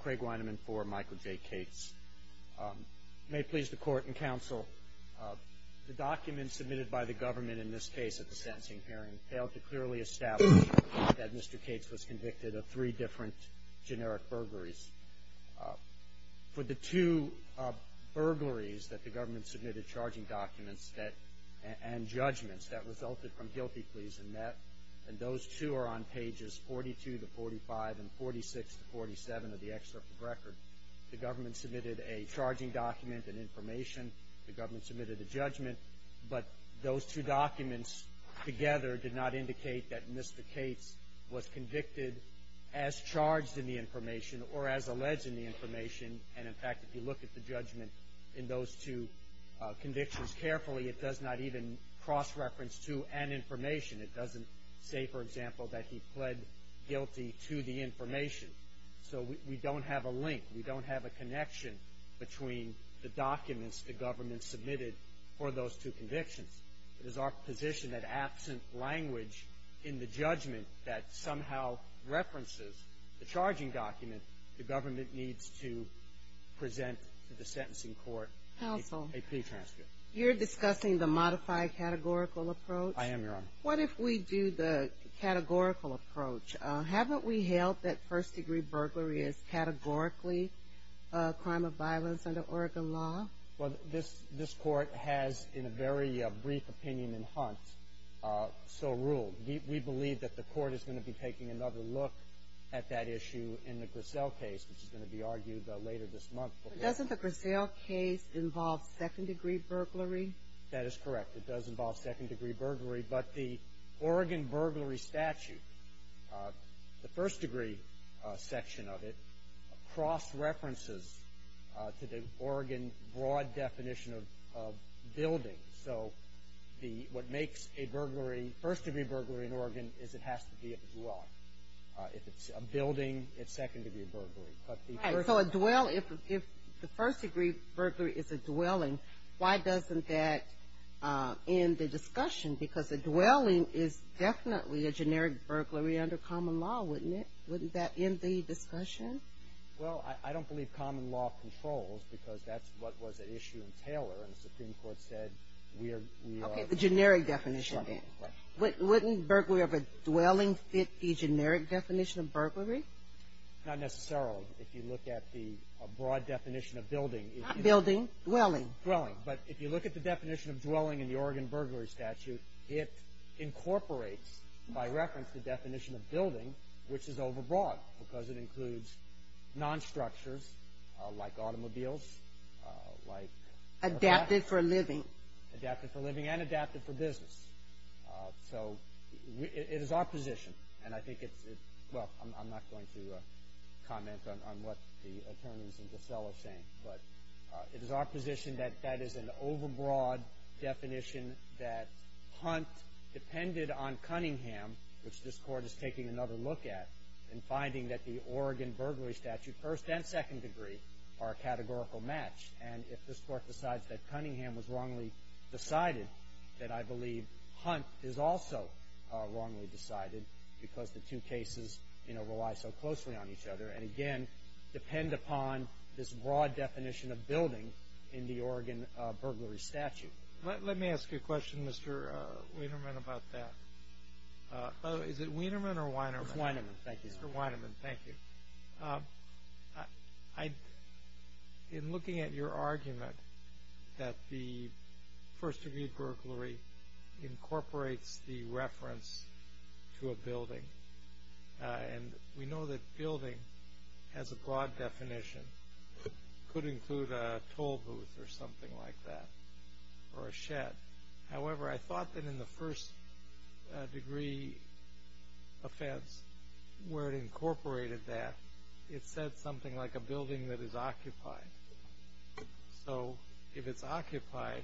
Craig Weinemann for Michael J. Cates. May it please the court and counsel, the documents submitted by the government in this case at the sentencing hearing failed to clearly establish that Mr. Cates was convicted of three different generic burglaries. For the two burglaries that the government submitted charging documents that – and judgments that resulted from guilty pleas and met. And those two are on pages 42 to 45 and 46 to 47 of the excerpt of record. The government submitted a charging document and information. The government submitted a judgment. But those two documents together did not indicate that Mr. Cates was convicted as charged in the information or as alleged in the information. And, in fact, if you look at the judgment in those two convictions carefully, it does not even cross-reference to an information. It doesn't say, for example, that he pled guilty to the information. So we don't have a link. We don't have a connection between the documents the government submitted for those two convictions. It is our position that absent language in the judgment that somehow references the charging document, the government needs to present to the sentencing court a pretranscript. Counsel, you're discussing the modified categorical approach? I am, Your Honor. What if we do the categorical approach? Haven't we held that first-degree burglary is categorically a crime of violence under Oregon law? Well, this court has, in a very brief opinion in Hunt, so ruled. We believe that the court is going to be taking another look at that issue in the future. It's going to be argued later this month. But doesn't the Grassell case involve second-degree burglary? That is correct. It does involve second-degree burglary. But the Oregon burglary statute, the first-degree section of it, cross-references to the Oregon broad definition of building. So the – what makes a burglary – first-degree burglary in Oregon is it has to be a block. If it's a building, it's second-degree burglary. Right. So a dwell – if the first-degree burglary is a dwelling, why doesn't that end the discussion? Because a dwelling is definitely a generic burglary under common law, wouldn't it? Wouldn't that end the discussion? Well, I don't believe common law controls, because that's what was at issue in Taylor, and the Supreme Court said we are – we are – Okay. The generic definition, then. Right. Wouldn't burglary of a dwelling fit the generic definition of burglary? Not necessarily, if you look at the broad definition of building. Not building. Dwelling. Dwelling. But if you look at the definition of dwelling in the Oregon burglary statute, it incorporates, by reference, the definition of building, which is overbroad, because it includes non-structures like automobiles, like – Adapted for living. Adapted for living and adapted for business. So it is our position, and I think it's – well, I'm not going to comment on what the attorneys in DeSello are saying, but it is our position that that is an overbroad definition that Hunt depended on Cunningham, which this Court is taking another look at, and finding that the Oregon burglary statute, first and second degree, are a categorical match. And if this Court decides that Cunningham was wrongly decided, then I believe Hunt is also wrongly decided because the two cases, you know, rely so closely on each other and, again, depend upon this broad definition of building in the Oregon burglary statute. Let me ask you a question, Mr. Wienermann, about that. Is it Wienermann or Weinermann? It's Wienermann. Thank you, sir. Mr. Wienermann, thank you. In looking at your argument that the first degree burglary incorporates the reference to a building, and we know that building has a broad definition. It could include a toll booth or something like that, or a shed. However, I thought that in the first degree offense, where it incorporated that, it said something like a building that is occupied. So if it's occupied,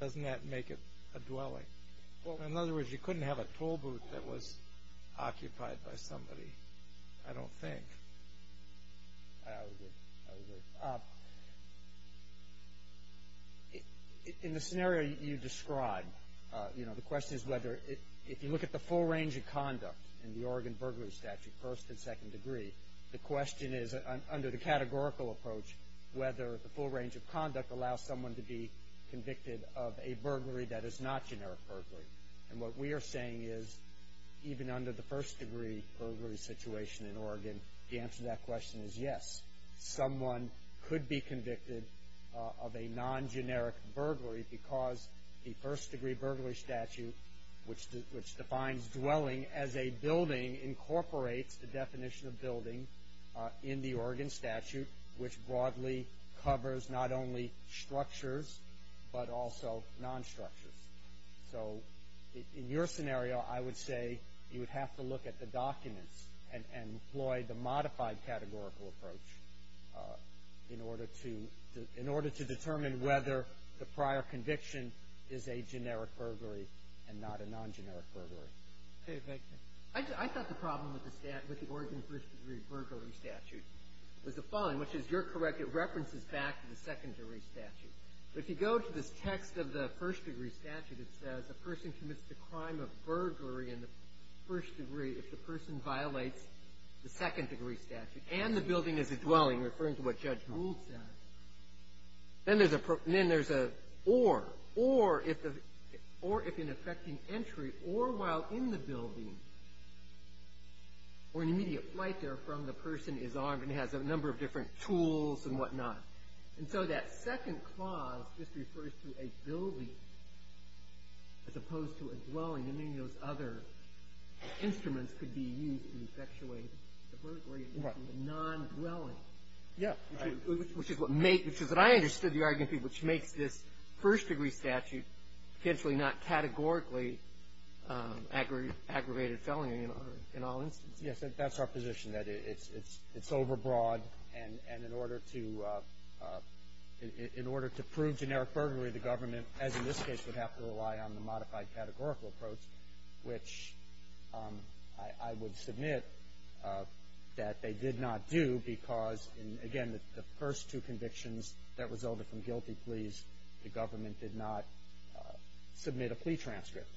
doesn't that make it a dwelling? In other words, you couldn't have a toll booth that was occupied by somebody, I don't think. I would agree. In the scenario you described, you know, the question is whether, if you look at the full range of conduct in the Oregon burglary statute, first and second degree, the question is, under the categorical approach, whether the full range of conduct allows someone to be convicted of a burglary that is not generic burglary. And what we are saying is, even under the first degree burglary situation in Oregon, the answer to that question is yes, someone could be convicted of a non-generic burglary because the first degree burglary statute, which defines dwelling as a building, incorporates the definition of building in the Oregon statute, which broadly covers not only structures, but also non-structures. So in your scenario, I would say you would have to look at the documents and employ the modified categorical approach in order to determine whether the prior conviction is a generic burglary and not a non-generic burglary. Okay. Victor. I thought the problem with the Oregon first degree burglary statute was the following, which is, you're correct, it references back to the second degree statute. But if you go to this text of the first degree statute, it says, a person commits the crime of burglary in the first degree if the person violates the second degree statute and the building is a dwelling, referring to what Judge Gould said. Then there's a or. Or if an effecting entry, or while in the building, or an immediate flight therefrom, the person is armed and has a number of different tools and whatnot. And so that second clause just refers to a building as opposed to a dwelling. I mean, those other instruments could be used in effectuating the burglary. Right. Non-dwelling. Yeah. Right. Which is what I understood the argument to be, which makes this first degree statute potentially not categorically aggravated felony in all instances. Yes. That's our position, that it's overbroad. And in order to prove generic burglary, the government, as in this case, would have to rely on the modified categorical approach, which I would submit that they did not do because, again, the first two convictions that resulted from guilty pleas, the government did not submit a plea transcript.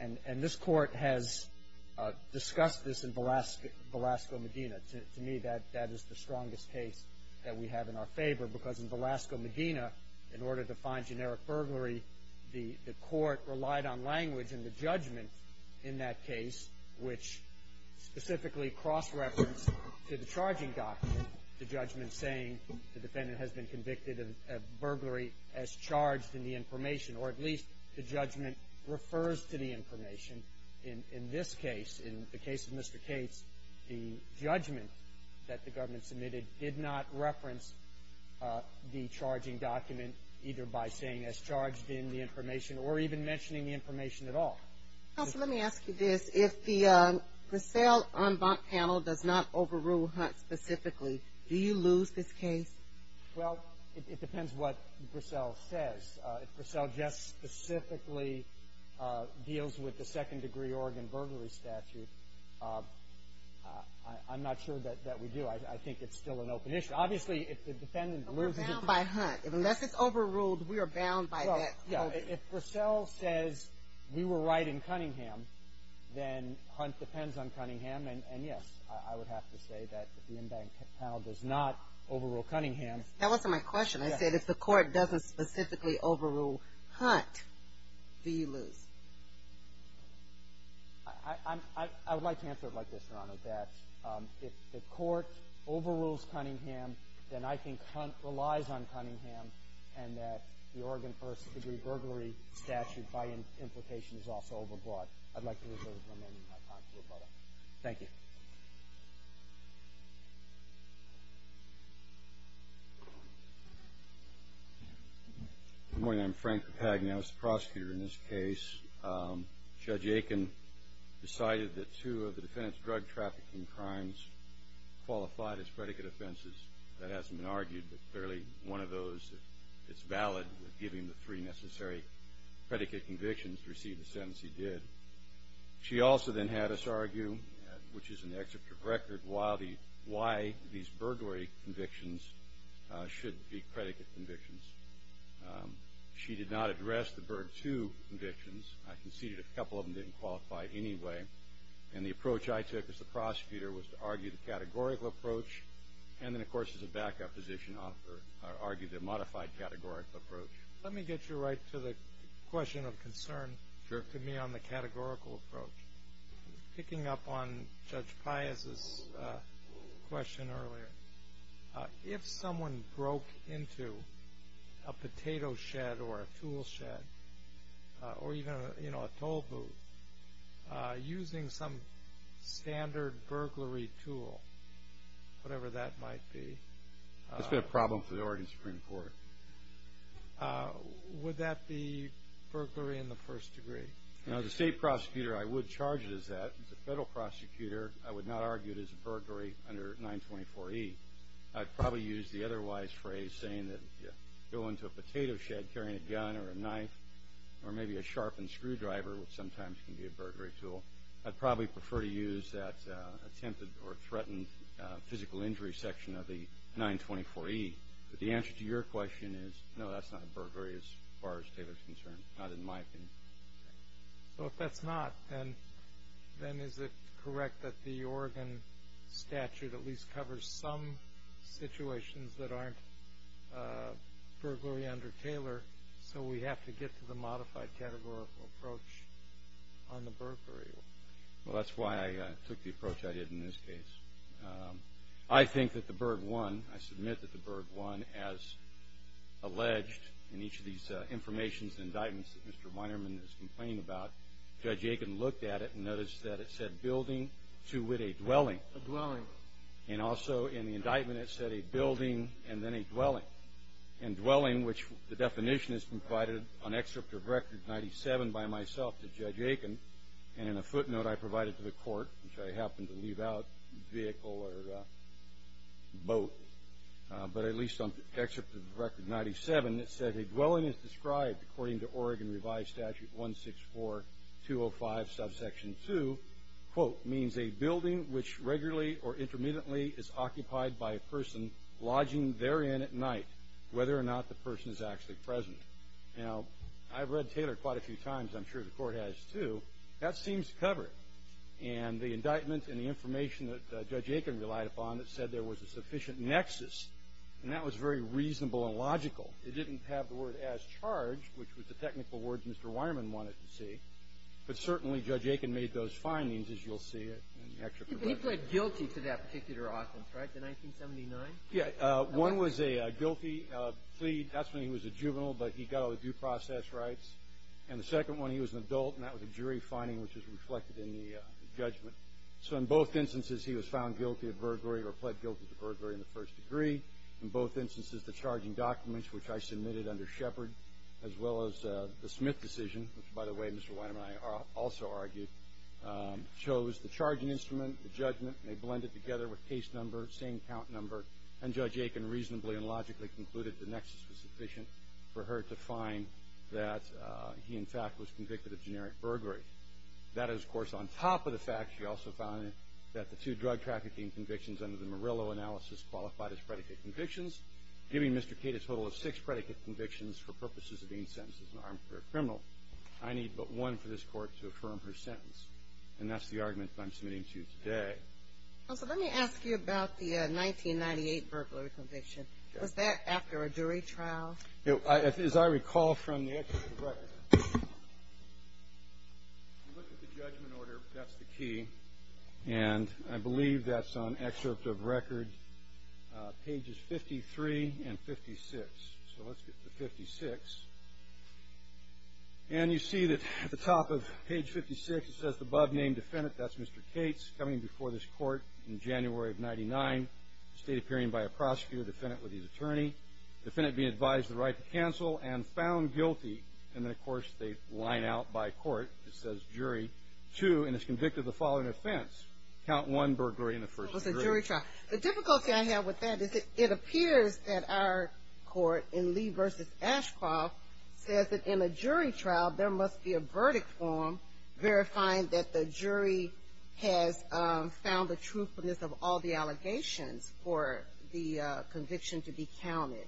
And this Court has discussed this in Velasco-Medina. To me, that is the strongest case that we have in our favor because in Velasco-Medina, in order to find generic burglary, the Court relied on language and the judgment in that case, which specifically cross-referenced to the charging document, the judgment saying the defendant has been convicted of burglary as charged in the information, or at least the judgment refers to the information. In this case, in the case of Mr. Cates, the judgment that the government submitted did not reference the charging document either by saying as charged in the information or even mentioning the information at all. Counsel, let me ask you this. If the Brassell en banc panel does not overrule Hunt specifically, do you lose this case? Well, it depends what Brassell says. If Brassell just specifically deals with the second-degree Oregon burglary statute, I'm not sure that we do. I think it's still an open issue. Obviously, if the defendant loses it. But we're bound by Hunt. Unless it's overruled, we are bound by that. Well, yeah. If Brassell says we were right in Cunningham, then Hunt depends on Cunningham. And, yes, I would have to say that if the en banc panel does not overrule Cunningham. That wasn't my question. I said if the court doesn't specifically overrule Hunt, do you lose? I would like to answer it like this, Your Honor, that if the court overrules Cunningham, then I think Hunt relies on Cunningham and that the Oregon first-degree burglary statute by implication is also overbought. I'd like to reserve the remaining time to rebuttal. Thank you. Good morning. I'm Frank Papagni. I was the prosecutor in this case. Judge Aiken decided that two of the defendant's drug trafficking crimes qualified as predicate offenses. That hasn't been argued, but clearly one of those, it's valid with giving the three necessary predicate convictions to receive the sentence he did. She also then had us argue, which is in the excerpt of record, why these burglary convictions should be predicate convictions. She did not address the Berg II convictions. I conceded a couple of them didn't qualify anyway. And the approach I took as the prosecutor was to argue the categorical approach and then, of course, as a backup position, argue the modified categorical approach. Let me get you right to the question of concern to me on the categorical approach. Picking up on Judge Pius' question earlier, if someone broke into a potato shed or a tool shed or even, you know, a toll booth, using some standard burglary tool, whatever that might be. That's been a problem for the Oregon Supreme Court. Would that be burglary in the first degree? As a state prosecutor, I would charge it as that. As a federal prosecutor, I would not argue it as a burglary under 924E. I'd probably use the otherwise phrase saying that you go into a potato shed carrying a gun or a knife or maybe a sharpened screwdriver, which sometimes can be a burglary tool. I'd probably prefer to use that attempted or threatened physical injury section of the 924E. But the answer to your question is, no, that's not a burglary as far as Taylor's concerned. Not in my opinion. So if that's not, then is it correct that the Oregon statute at least covers some situations that aren't burglary under Taylor, so we have to get to the modified categorical approach on the burglary? Well, that's why I took the approach I did in this case. I think that the burg won. I submit that the burg won as alleged in each of these informations and indictments that Mr. Weinerman is complaining about. Judge Aiken looked at it and noticed that it said building to wit a dwelling. A dwelling. And also in the indictment it said a building and then a dwelling. And dwelling, which the definition has been provided on excerpt of Record 97 by myself to Judge Aiken, and in a footnote I provided to the court, which I happened to leave out, vehicle or boat, but at least on excerpt of Record 97 it said, A dwelling is described according to Oregon Revised Statute 164205, subsection 2, quote, means a building which regularly or intermittently is occupied by a person lodging therein at night, whether or not the person is actually present. Now, I've read Taylor quite a few times. I'm sure the court has too. That seems to cover it. And the indictment and the information that Judge Aiken relied upon, it said there was a sufficient nexus, and that was very reasonable and logical. It didn't have the word as charged, which was the technical word Mr. Weinerman wanted to see, but certainly Judge Aiken made those findings, as you'll see in the excerpt. He pled guilty to that particular offense, right, the 1979? Yes. One was a guilty plea. That's when he was a juvenile, but he got all the due process rights. And the second one, he was an adult, and that was a jury finding, which is reflected in the judgment. So in both instances, he was found guilty of burglary or pled guilty to burglary in the first degree. In both instances, the charging documents, which I submitted under Shepard, as well as the Smith decision, which, by the way, Mr. Weinerman and I also argued, chose the charging instrument, the judgment, and they blended together with case number, same count number, and Judge Aiken reasonably and logically concluded the nexus was sufficient for her to find that he, in fact, was convicted of generic burglary. That is, of course, on top of the fact, she also found that the two drug trafficking convictions under the Murillo analysis qualified as predicate convictions, giving Mr. Cate a total of six predicate convictions for purposes of being sentenced as an armed career criminal. I need but one for this Court to affirm her sentence. And that's the argument that I'm submitting to you today. Counsel, let me ask you about the 1998 burglary conviction. Was that after a jury trial? As I recall from the excerpt of record, you look at the judgment order. That's the key. And I believe that's on excerpt of record, pages 53 and 56. So let's get to 56. And you see that at the top of page 56, it says, The above-named defendant, that's Mr. Cates, coming before this Court in January of 99, stayed appearing by a prosecutor, defendant with his attorney, defendant being advised the right to cancel and found guilty. And then, of course, they line out by court. It says, Jury 2, and is convicted of the following offense. Count 1, burglary in the first degree. It was a jury trial. The difficulty I have with that is it appears that our court in Lee v. Ashcroft says that in a jury trial there must be a verdict form verifying that the jury has found the truthfulness of all the allegations for the conviction to be counted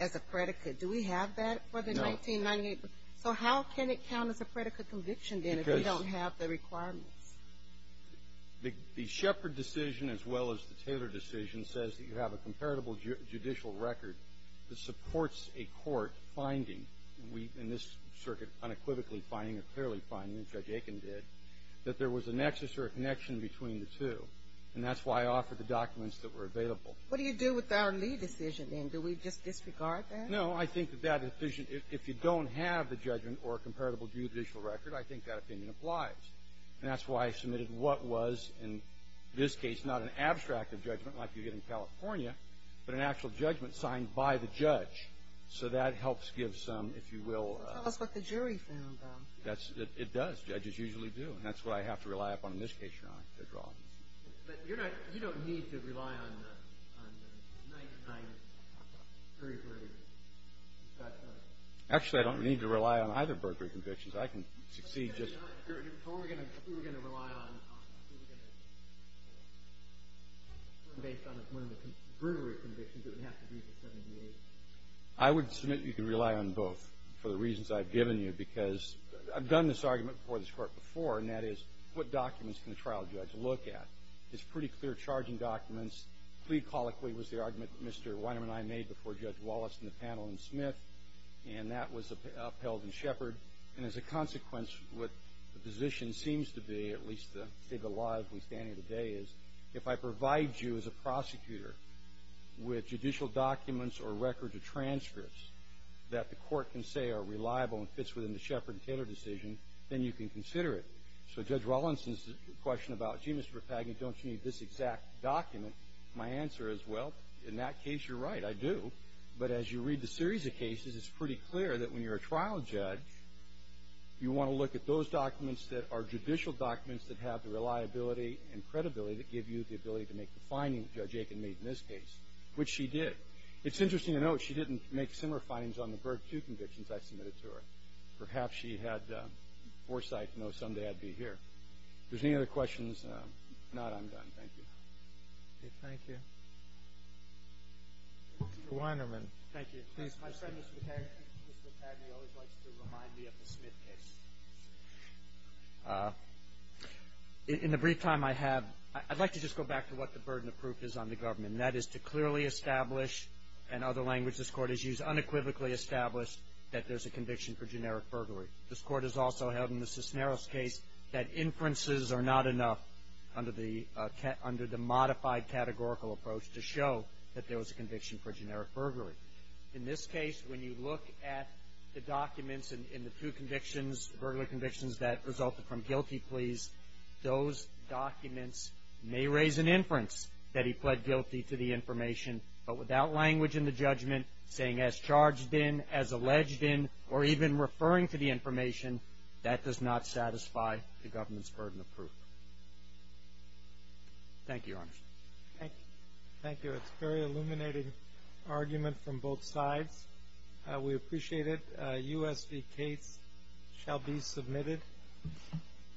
as a predicate. Do we have that for the 1998? No. So how can it count as a predicate conviction, then, if we don't have the requirements? The Shepard decision, as well as the Taylor decision, says that you have a comparable judicial record that supports a court finding. We, in this circuit, unequivocally finding or clearly finding, as Judge Aiken did, that there was a nexus or a connection between the two. And that's why I offered the documents that were available. What do you do with our Lee decision, then? Do we just disregard that? No, I think that if you don't have the judgment or a comparable judicial record, I think that opinion applies. And that's why I submitted what was, in this case, not an abstract of judgment, like you get in California, but an actual judgment signed by the judge. So that helps give some, if you will. Tell us what the jury found, then. It does. Judges usually do. And that's what I have to rely upon in this case, Your Honor, to draw. But you're not – you don't need to rely on 99 perjury. Actually, I don't need to rely on either perjury convictions. I can succeed just – Who are we going to rely on? Who are we going to – based on one of the perjury convictions, it would have to be the 78. I would submit you can rely on both for the reasons I've given you, because I've done this argument before this Court before, and that is, what documents can a trial judge look at? It's pretty clear charging documents. Plead colloquy was the argument that Mr. Weinerman and I made before Judge Wallace and the panel and Smith, and that was upheld in Shepard. And as a consequence, what the position seems to be, at least the state of the law as we stand here today, is, if I provide you as a prosecutor with judicial documents or records or transcripts that the Court can say are reliable and fits within the Shepard and Taylor decision, then you can consider it. So Judge Wallinson's question about, gee, Mr. Papagni, don't you need this exact document, my answer is, well, in that case, you're right. I do. But as you read the series of cases, it's pretty clear that when you're a trial judge, you want to look at those documents that are judicial documents that have the reliability and credibility that give you the ability to make the findings that Judge Aiken made in this case, which she did. It's interesting to note she didn't make similar findings on the Berg II convictions I submitted to her. Perhaps she had foresight to know someday I'd be here. If there's any other questions, nod I'm done. Thank you. Okay. Thank you. Mr. Weinerman. Thank you. Please. My friend, Mr. Papagni, always likes to remind me of the Smith case. In the brief time I have, I'd like to just go back to what the burden of proof is on the government, and that is to clearly establish, and other languages this Court has used, unequivocally establish that there's a conviction for generic burglary. This Court has also held in the Cisneros case that inferences are not enough under the modified categorical approach to show that there was a conviction for generic burglary. In this case, when you look at the documents in the two convictions, burglar convictions that resulted from guilty pleas, those documents may raise an inference that he was acting as charged in, as alleged in, or even referring to the information. That does not satisfy the government's burden of proof. Thank you, Your Honor. Thank you. Thank you. It's a very illuminating argument from both sides. We appreciate it. U.S. v. Cates shall be submitted.